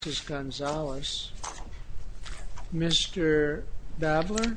This is Gonzalez. Mr. Babler?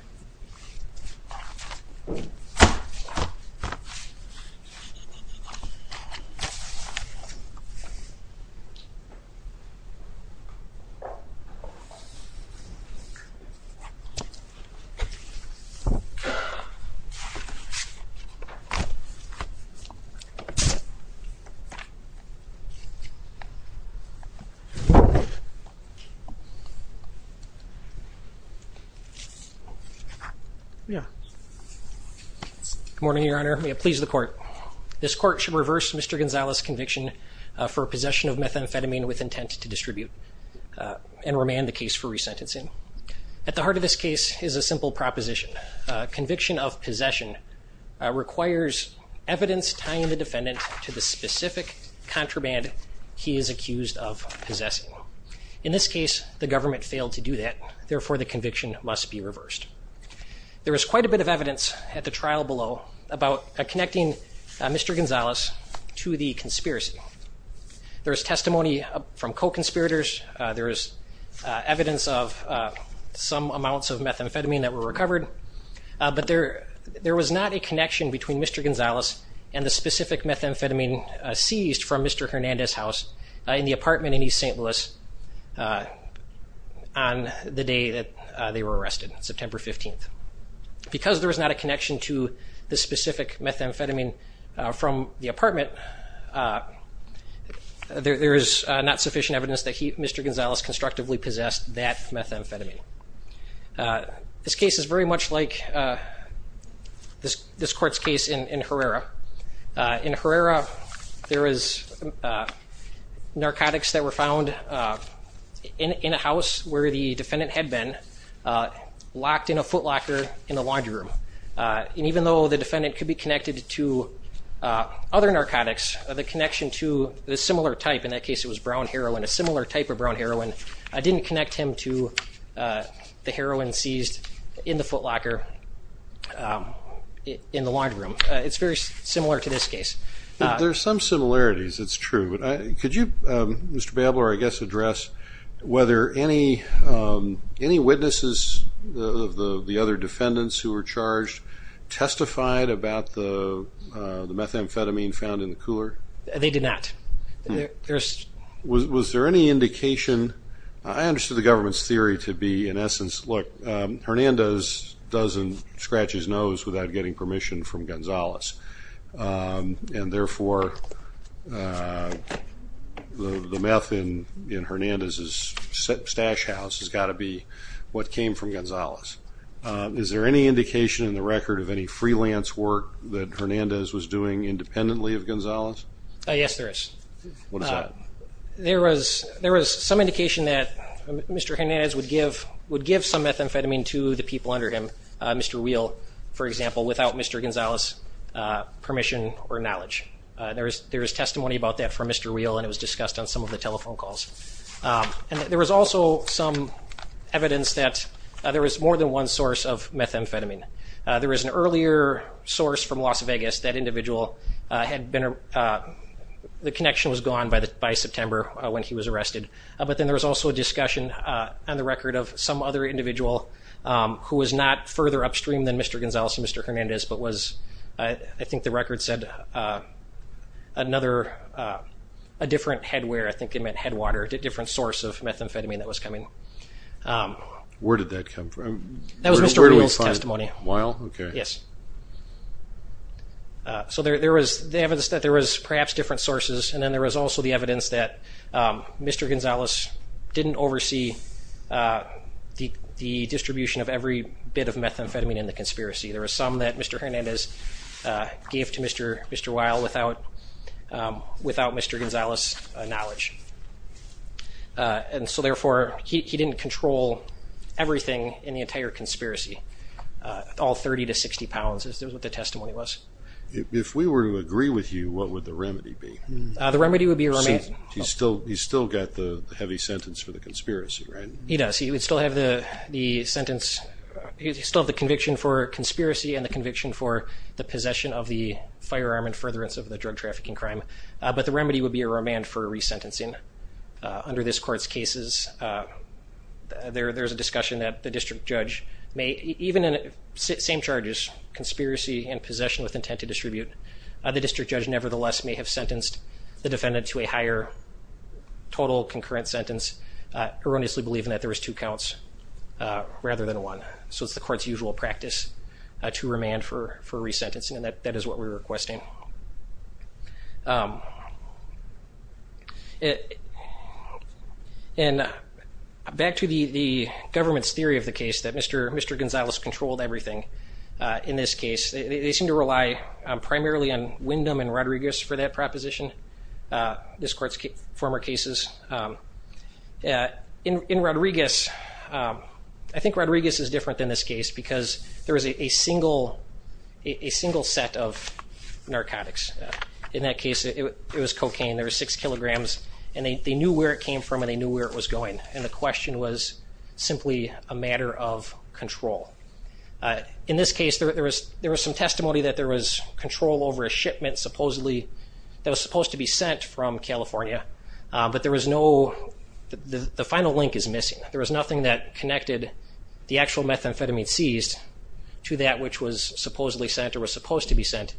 Good morning, Your Honor. Please the court. This court should reverse Mr. Gonzalez conviction for possession of methamphetamine with intent to distribute and remand the case for resentencing. At the heart of this case is a simple proposition. Conviction of possession requires evidence tying the defendant to the specific contraband he is accused of possessing. In this case, the government failed to do that, therefore the conviction must be reversed. There is quite a bit of evidence at the trial below about connecting Mr. Gonzalez to the conspiracy. There is testimony from co-conspirators. There is evidence of some amounts of methamphetamine that were recovered. But there was not a connection between Mr. Gonzalez and the specific methamphetamine seized from Mr. Hernandez' house in the apartment in East St. Louis on the day that they were arrested, September 15th. Because there was not a connection to the specific methamphetamine from the apartment, there is not sufficient evidence that Mr. Gonzalez constructively possessed that methamphetamine. This case is very much like this court's case in Herrera. In Herrera, there is narcotics that were found in a house where the defendant had been, locked in a footlocker in the laundry room. And even though the defendant could be connected to other narcotics, the connection to a similar type, in that case it was brown heroin, a similar type of brown heroin, didn't connect him to methamphetamine. The heroin seized in the footlocker in the laundry room. It's very similar to this case. There are some similarities, it's true. Could you, Mr. Babler, I guess address whether any witnesses of the other defendants who were charged testified about the methamphetamine found in the cooler? They did not. Was there any indication, I understood the government's theory to be in essence, look, Hernandez doesn't scratch his nose without getting permission from Gonzalez. And therefore, the meth in Hernandez's stash house has got to be what came from Gonzalez. Is there any indication in the record of any freelance work that Hernandez was doing independently of Gonzalez? Yes, there is. What is that? There was some indication that Mr. Hernandez would give some methamphetamine to the people under him, Mr. Weil, for example, without Mr. Gonzalez's permission or knowledge. There is testimony about that from Mr. Weil and it was discussed on some of the telephone calls. And there was also some evidence that there was more than one source of methamphetamine. There was an earlier source from Las Vegas, that individual had been, the connection was gone by September when he was arrested. But then there was also a discussion on the record of some other individual who was not further upstream than Mr. Gonzalez and Mr. Hernandez, but was, I think the record said, another, a different head wear, I think it meant head water, a different source of methamphetamine that was coming. Where did that come from? That was Mr. Weil's testimony. Weil? Okay. Yes. So there was the evidence that there was perhaps different sources and then there was also the evidence that Mr. Gonzalez didn't oversee the distribution of every bit of methamphetamine in the conspiracy. There was some that Mr. Hernandez gave to Mr. Weil without Mr. Gonzalez's knowledge. And so therefore, he didn't control everything in the entire conspiracy, all 30 to 60 pounds, is what the testimony was. If we were to agree with you, what would the remedy be? The remedy would be a remand. He's still got the heavy sentence for the conspiracy, right? He does. He would still have the sentence, he'd still have the conviction for conspiracy and the conviction for the possession of the firearm and furtherance of the drug trafficking crime. But the remedy would be a remand for resentencing. Under this court's cases, there's a discussion that the district judge may, even in the same charges, conspiracy and possession with intent to distribute, the district judge nevertheless may have sentenced the defendant to a higher total concurrent sentence, erroneously believing that there was two counts rather than one. So it's the court's usual practice to remand for resentencing, and that is what we're requesting. And back to the government's theory of the case that Mr. Gonzalez controlled everything. In this case, they seem to rely primarily on Windham and Rodriguez for that proposition, this court's former cases. In Rodriguez, I think Rodriguez is different than this case because there is a single set of narcotics. In that case, it was cocaine. There were six kilograms, and they knew where it came from and they knew where it was going, and the question was simply a matter of control. In this case, there was some testimony that there was control over a shipment supposedly that was supposed to be sent from California, but there was no, the final link is missing. There was nothing that connected the actual methamphetamine seized to that which was supposedly sent or was supposed to be sent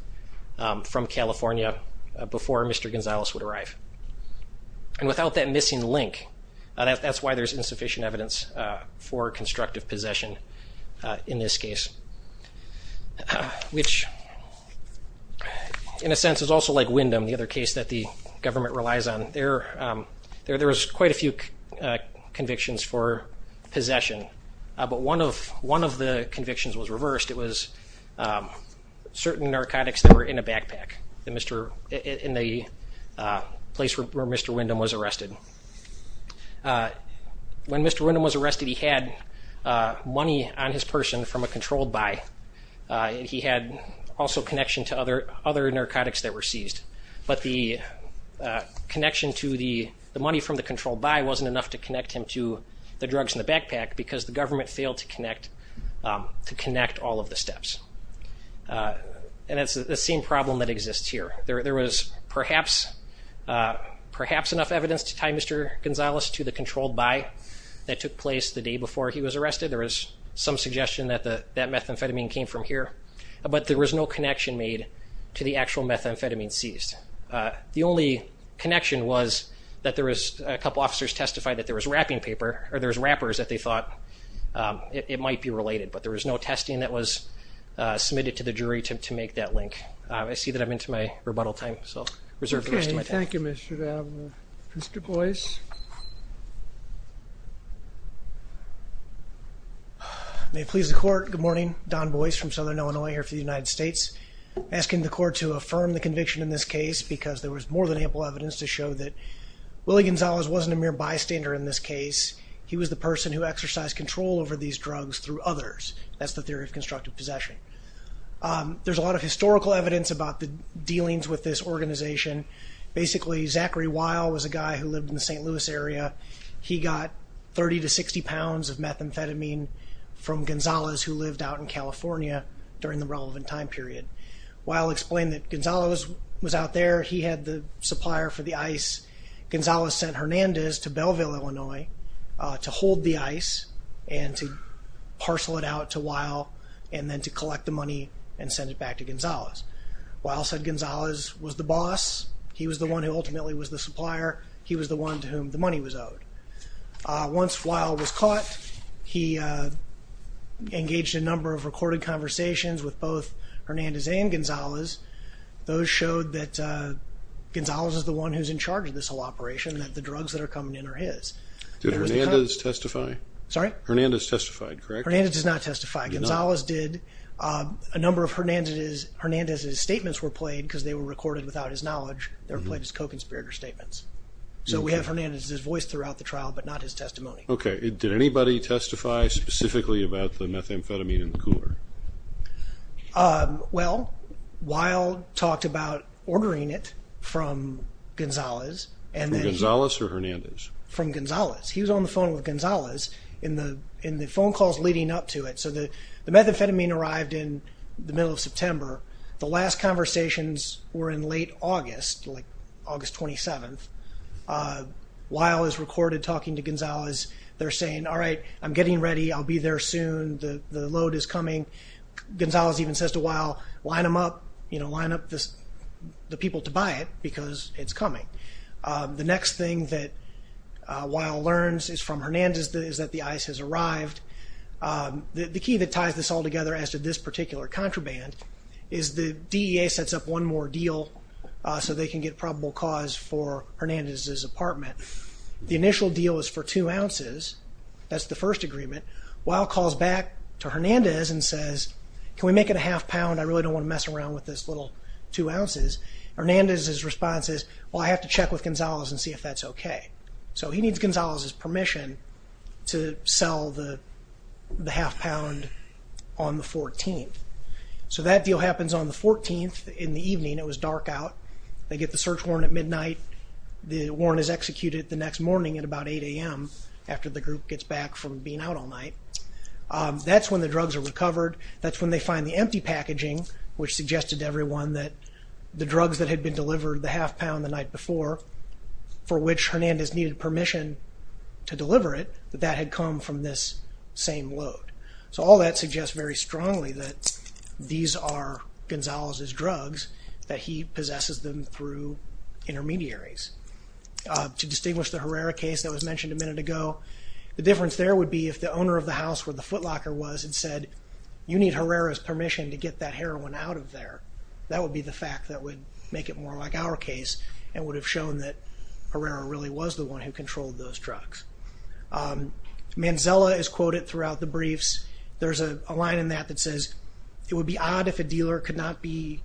from California before Mr. Gonzalez would arrive. And without that missing link, that's why there's insufficient evidence for constructive possession in this case. Which, in a sense, is also like Windham, the other case that the government relies on. There was quite a few convictions for possession, but one of the convictions was reversed. It was certain narcotics that were in a backpack in the place where Mr. Windham was arrested. When Mr. Windham was arrested, he had money on his person from a controlled buy. He had also connection to other narcotics that were seized, but the connection to the money from the controlled buy wasn't enough to connect him to the drugs in the backpack because the government failed to connect all of the steps. And it's the same problem that exists here. There was perhaps enough evidence to tie Mr. Gonzalez to the controlled buy that took place the day before he was arrested. There was some suggestion that that methamphetamine came from here, but there was no connection made to the actual methamphetamine seized. The only connection was that there was, a couple officers testified that there was wrapping paper, or there was wrappers that they thought it might be related, but there was no testing that was submitted to the jury to make that link. I see that I'm into my rebuttal time, so I'll reserve the rest of my time. Okay, thank you Mr. Davenport. Mr. Boyce. May it please the court, good morning. Don Boyce from Southern Illinois here for the United States. Asking the court to affirm the conviction in this case because there was more than ample evidence to show that Willie Gonzalez wasn't a mere bystander in this case. He was the person who exercised control over these drugs through others. That's the theory of constructive possession. There's a lot of historical evidence about the dealings with this organization. Basically, Zachary Weil was a guy who lived in the St. Louis area. He got 30 to 60 pounds of methamphetamine from Gonzalez who lived out in California during the relevant time period. Weil explained that Gonzalez was out there, he had the supplier for the ice. Gonzalez sent Hernandez to Belleville, Illinois to hold the ice and to parcel it out to Weil and then to collect the money and send it back to Gonzalez. Weil said Gonzalez was the boss. He was the one who ultimately was the supplier. He was the one to whom the money was owed. Once Weil was caught, he engaged in a number of recorded conversations with both Hernandez and Gonzalez. Those showed that Gonzalez is the one who's in charge of this whole operation and that the drugs that are coming in are his. Did Hernandez testify? Sorry? Hernandez testified, correct? Hernandez did not testify. Gonzalez did. A number of Hernandez's statements were played because they were recorded without his knowledge. They were played as co-conspirator statements. So we have Hernandez's voice throughout the trial but not his testimony. Okay. Did anybody testify specifically about the methamphetamine in the cooler? Well, Weil talked about ordering it from Gonzalez. From Gonzalez or Hernandez? From Gonzalez. He was on the phone with Gonzalez in the phone calls leading up to it. So the methamphetamine arrived in the middle of September. The last conversations were in late August, like August 27th. Weil is recorded talking to Gonzalez. They're saying, all right, I'm getting ready. I'll be there soon. The load is coming. Gonzalez even says to Weil, line them up, line up the people to buy it because it's coming. The next thing that Weil learns is from Hernandez is that the ice has arrived. The key that ties this all together as to this particular contraband is the DEA sets up one more deal so they can get probable cause for Hernandez's apartment. The initial deal is for two ounces. That's the first agreement. Weil calls back to Hernandez and says, can we make it a half pound? I really don't want to mess around with this little two ounces. Hernandez's response is, well, I have to check with Gonzalez and see if that's okay. So he needs Gonzalez's permission to sell the half pound on the 14th. So that deal happens on the 14th in the evening. It was dark out. They get the search warrant at midnight. The warrant is executed the next morning at about 8 a.m. after the group gets back from being out all night. That's when the drugs are recovered. That's when they find the empty packaging, which suggested to everyone that the drugs that had been delivered, the half pound the night before, for which Hernandez needed permission to deliver it, that that had come from this same load. So all that suggests very strongly that these are Gonzalez's drugs, that he possesses them through intermediaries. To distinguish the Herrera case that was mentioned a minute ago, the difference there would be if the owner of the house where the footlocker was had said, you need Herrera's permission to get that heroin out of there. That would be the fact that would make it more like our case and would have shown that Herrera really was the one who controlled those drugs. Manzella is quoted throughout the briefs. There's a line in that that says, it would be odd if a dealer could not be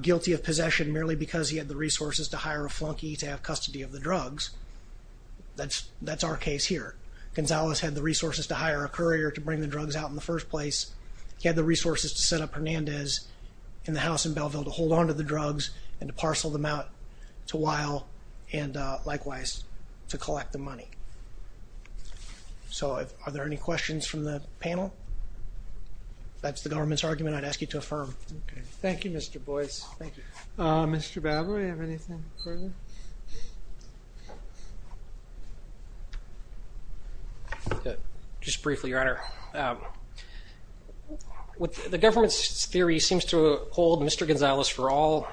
guilty of possession merely because he had the resources to hire a flunky to have custody of the drugs. That's our case here. Gonzalez had the resources to hire a courier to bring the drugs out in the first place. He had the resources to set up Hernandez in the house in Belleville to hold onto the drugs and to parcel them out to Weil and, likewise, to collect the money. So are there any questions from the panel? If that's the government's argument, I'd ask you to affirm. Thank you, Mr. Boyce. Mr. Baber, do you have anything further? Just briefly, Your Honor. The government's theory seems to hold Mr. Gonzalez for all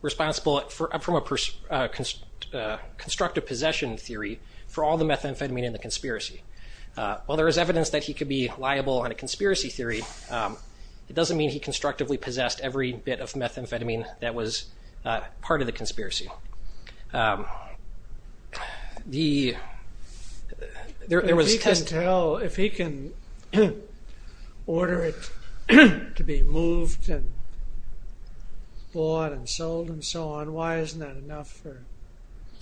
responsible from a constructive possession theory for all the methamphetamine in the conspiracy. While there is evidence that he could be liable on a conspiracy theory, it doesn't mean he constructively possessed every bit of methamphetamine that was part of the conspiracy. If he can tell, if he can order it to be moved and bought and sold and so on, why isn't that enough?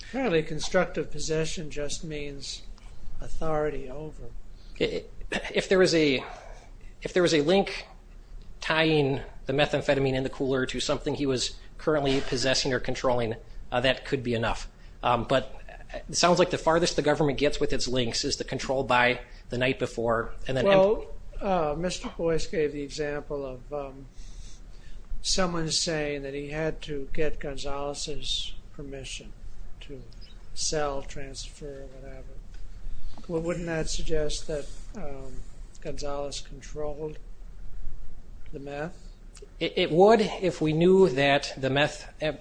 Apparently constructive possession just means authority over. If there was a link tying the methamphetamine in the cooler to something he was currently possessing or controlling, that could be enough. But it sounds like the farthest the government gets with its links is the control by the night before. Well, Mr. Boyce gave the example of someone saying that he had to get Gonzalez's permission to sell, transfer, whatever. Wouldn't that suggest that Gonzalez controlled the meth? It would if we knew that the meth and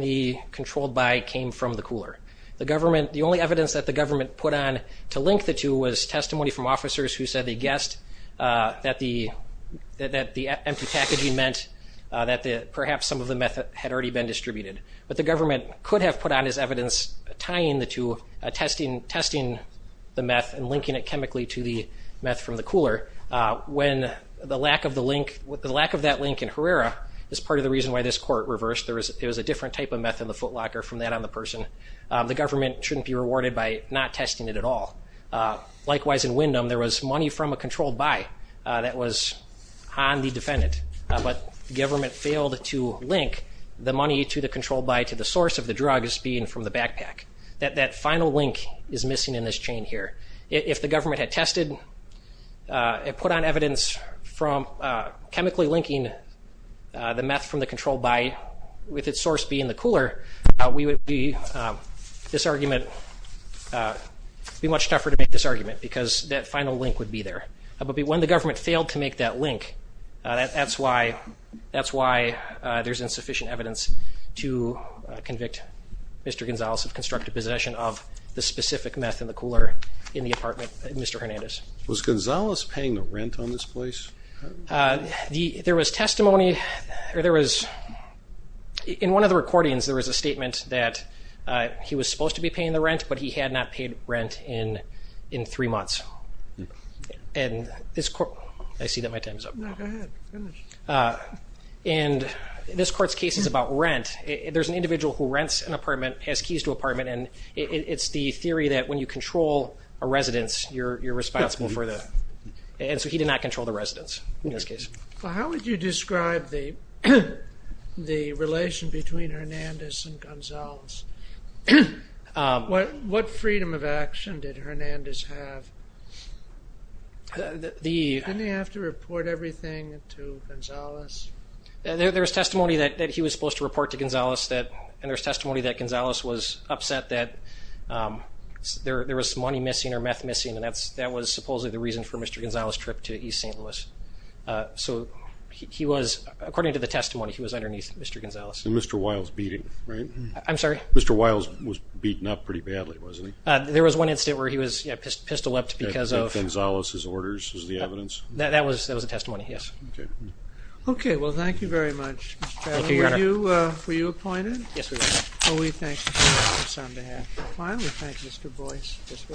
the controlled by came from the cooler. The only evidence that the government put on to link the two was testimony from officers who said they guessed that the empty packaging meant that perhaps some of the meth had already been distributed. But the government could have put on as evidence tying the two, testing the meth and linking it chemically to the meth from the cooler, when the lack of that link in Herrera is part of the reason why this court reversed. It was a different type of meth in the footlocker from that on the person. The government shouldn't be rewarded by not testing it at all. Likewise in Windham, there was money from a controlled by that was on the defendant, but the government failed to link the money to the controlled by to the source of the drug as being from the backpack. That final link is missing in this chain here. If the government had tested and put on evidence from chemically linking the meth from the controlled by with its source being the cooler, we would be much tougher to make this argument because that final link would be there. But when the government failed to make that link, that's why there's insufficient evidence to convict Mr. Gonzalez of constructive possession of the specific meth in the cooler in the apartment, Mr. Hernandez. Was Gonzalez paying the rent on this place? There was testimony, or there was, in one of the recordings, there was a statement that he was supposed to be paying the rent, but he had not paid rent in three months. And this court, I see that my time is up. No, go ahead, finish. And this court's case is about rent. There's an individual who rents an apartment, has keys to an apartment, and it's the theory that when you control a residence, you're responsible for the, and so he did not control the residence in this case. How would you describe the relation between Hernandez and Gonzalez? What freedom of action did Hernandez have? Didn't he have to report everything to Gonzalez? And there's testimony that Gonzalez was upset that there was money missing or meth missing, and that was supposedly the reason for Mr. Gonzalez' trip to East St. Louis. So he was, according to the testimony, he was underneath Mr. Gonzalez. And Mr. Wiles beat him, right? I'm sorry? Mr. Wiles was beaten up pretty badly, wasn't he? There was one incident where he was, yeah, pistol-whipped because of — Gonzalez's orders was the evidence? That was the testimony, yes. Okay. Okay, well, thank you very much. Thank you, Your Honor. Were you appointed? Yes, we were. Well, we thank you on behalf of Mr. Wiles. We thank Mr. Boyce.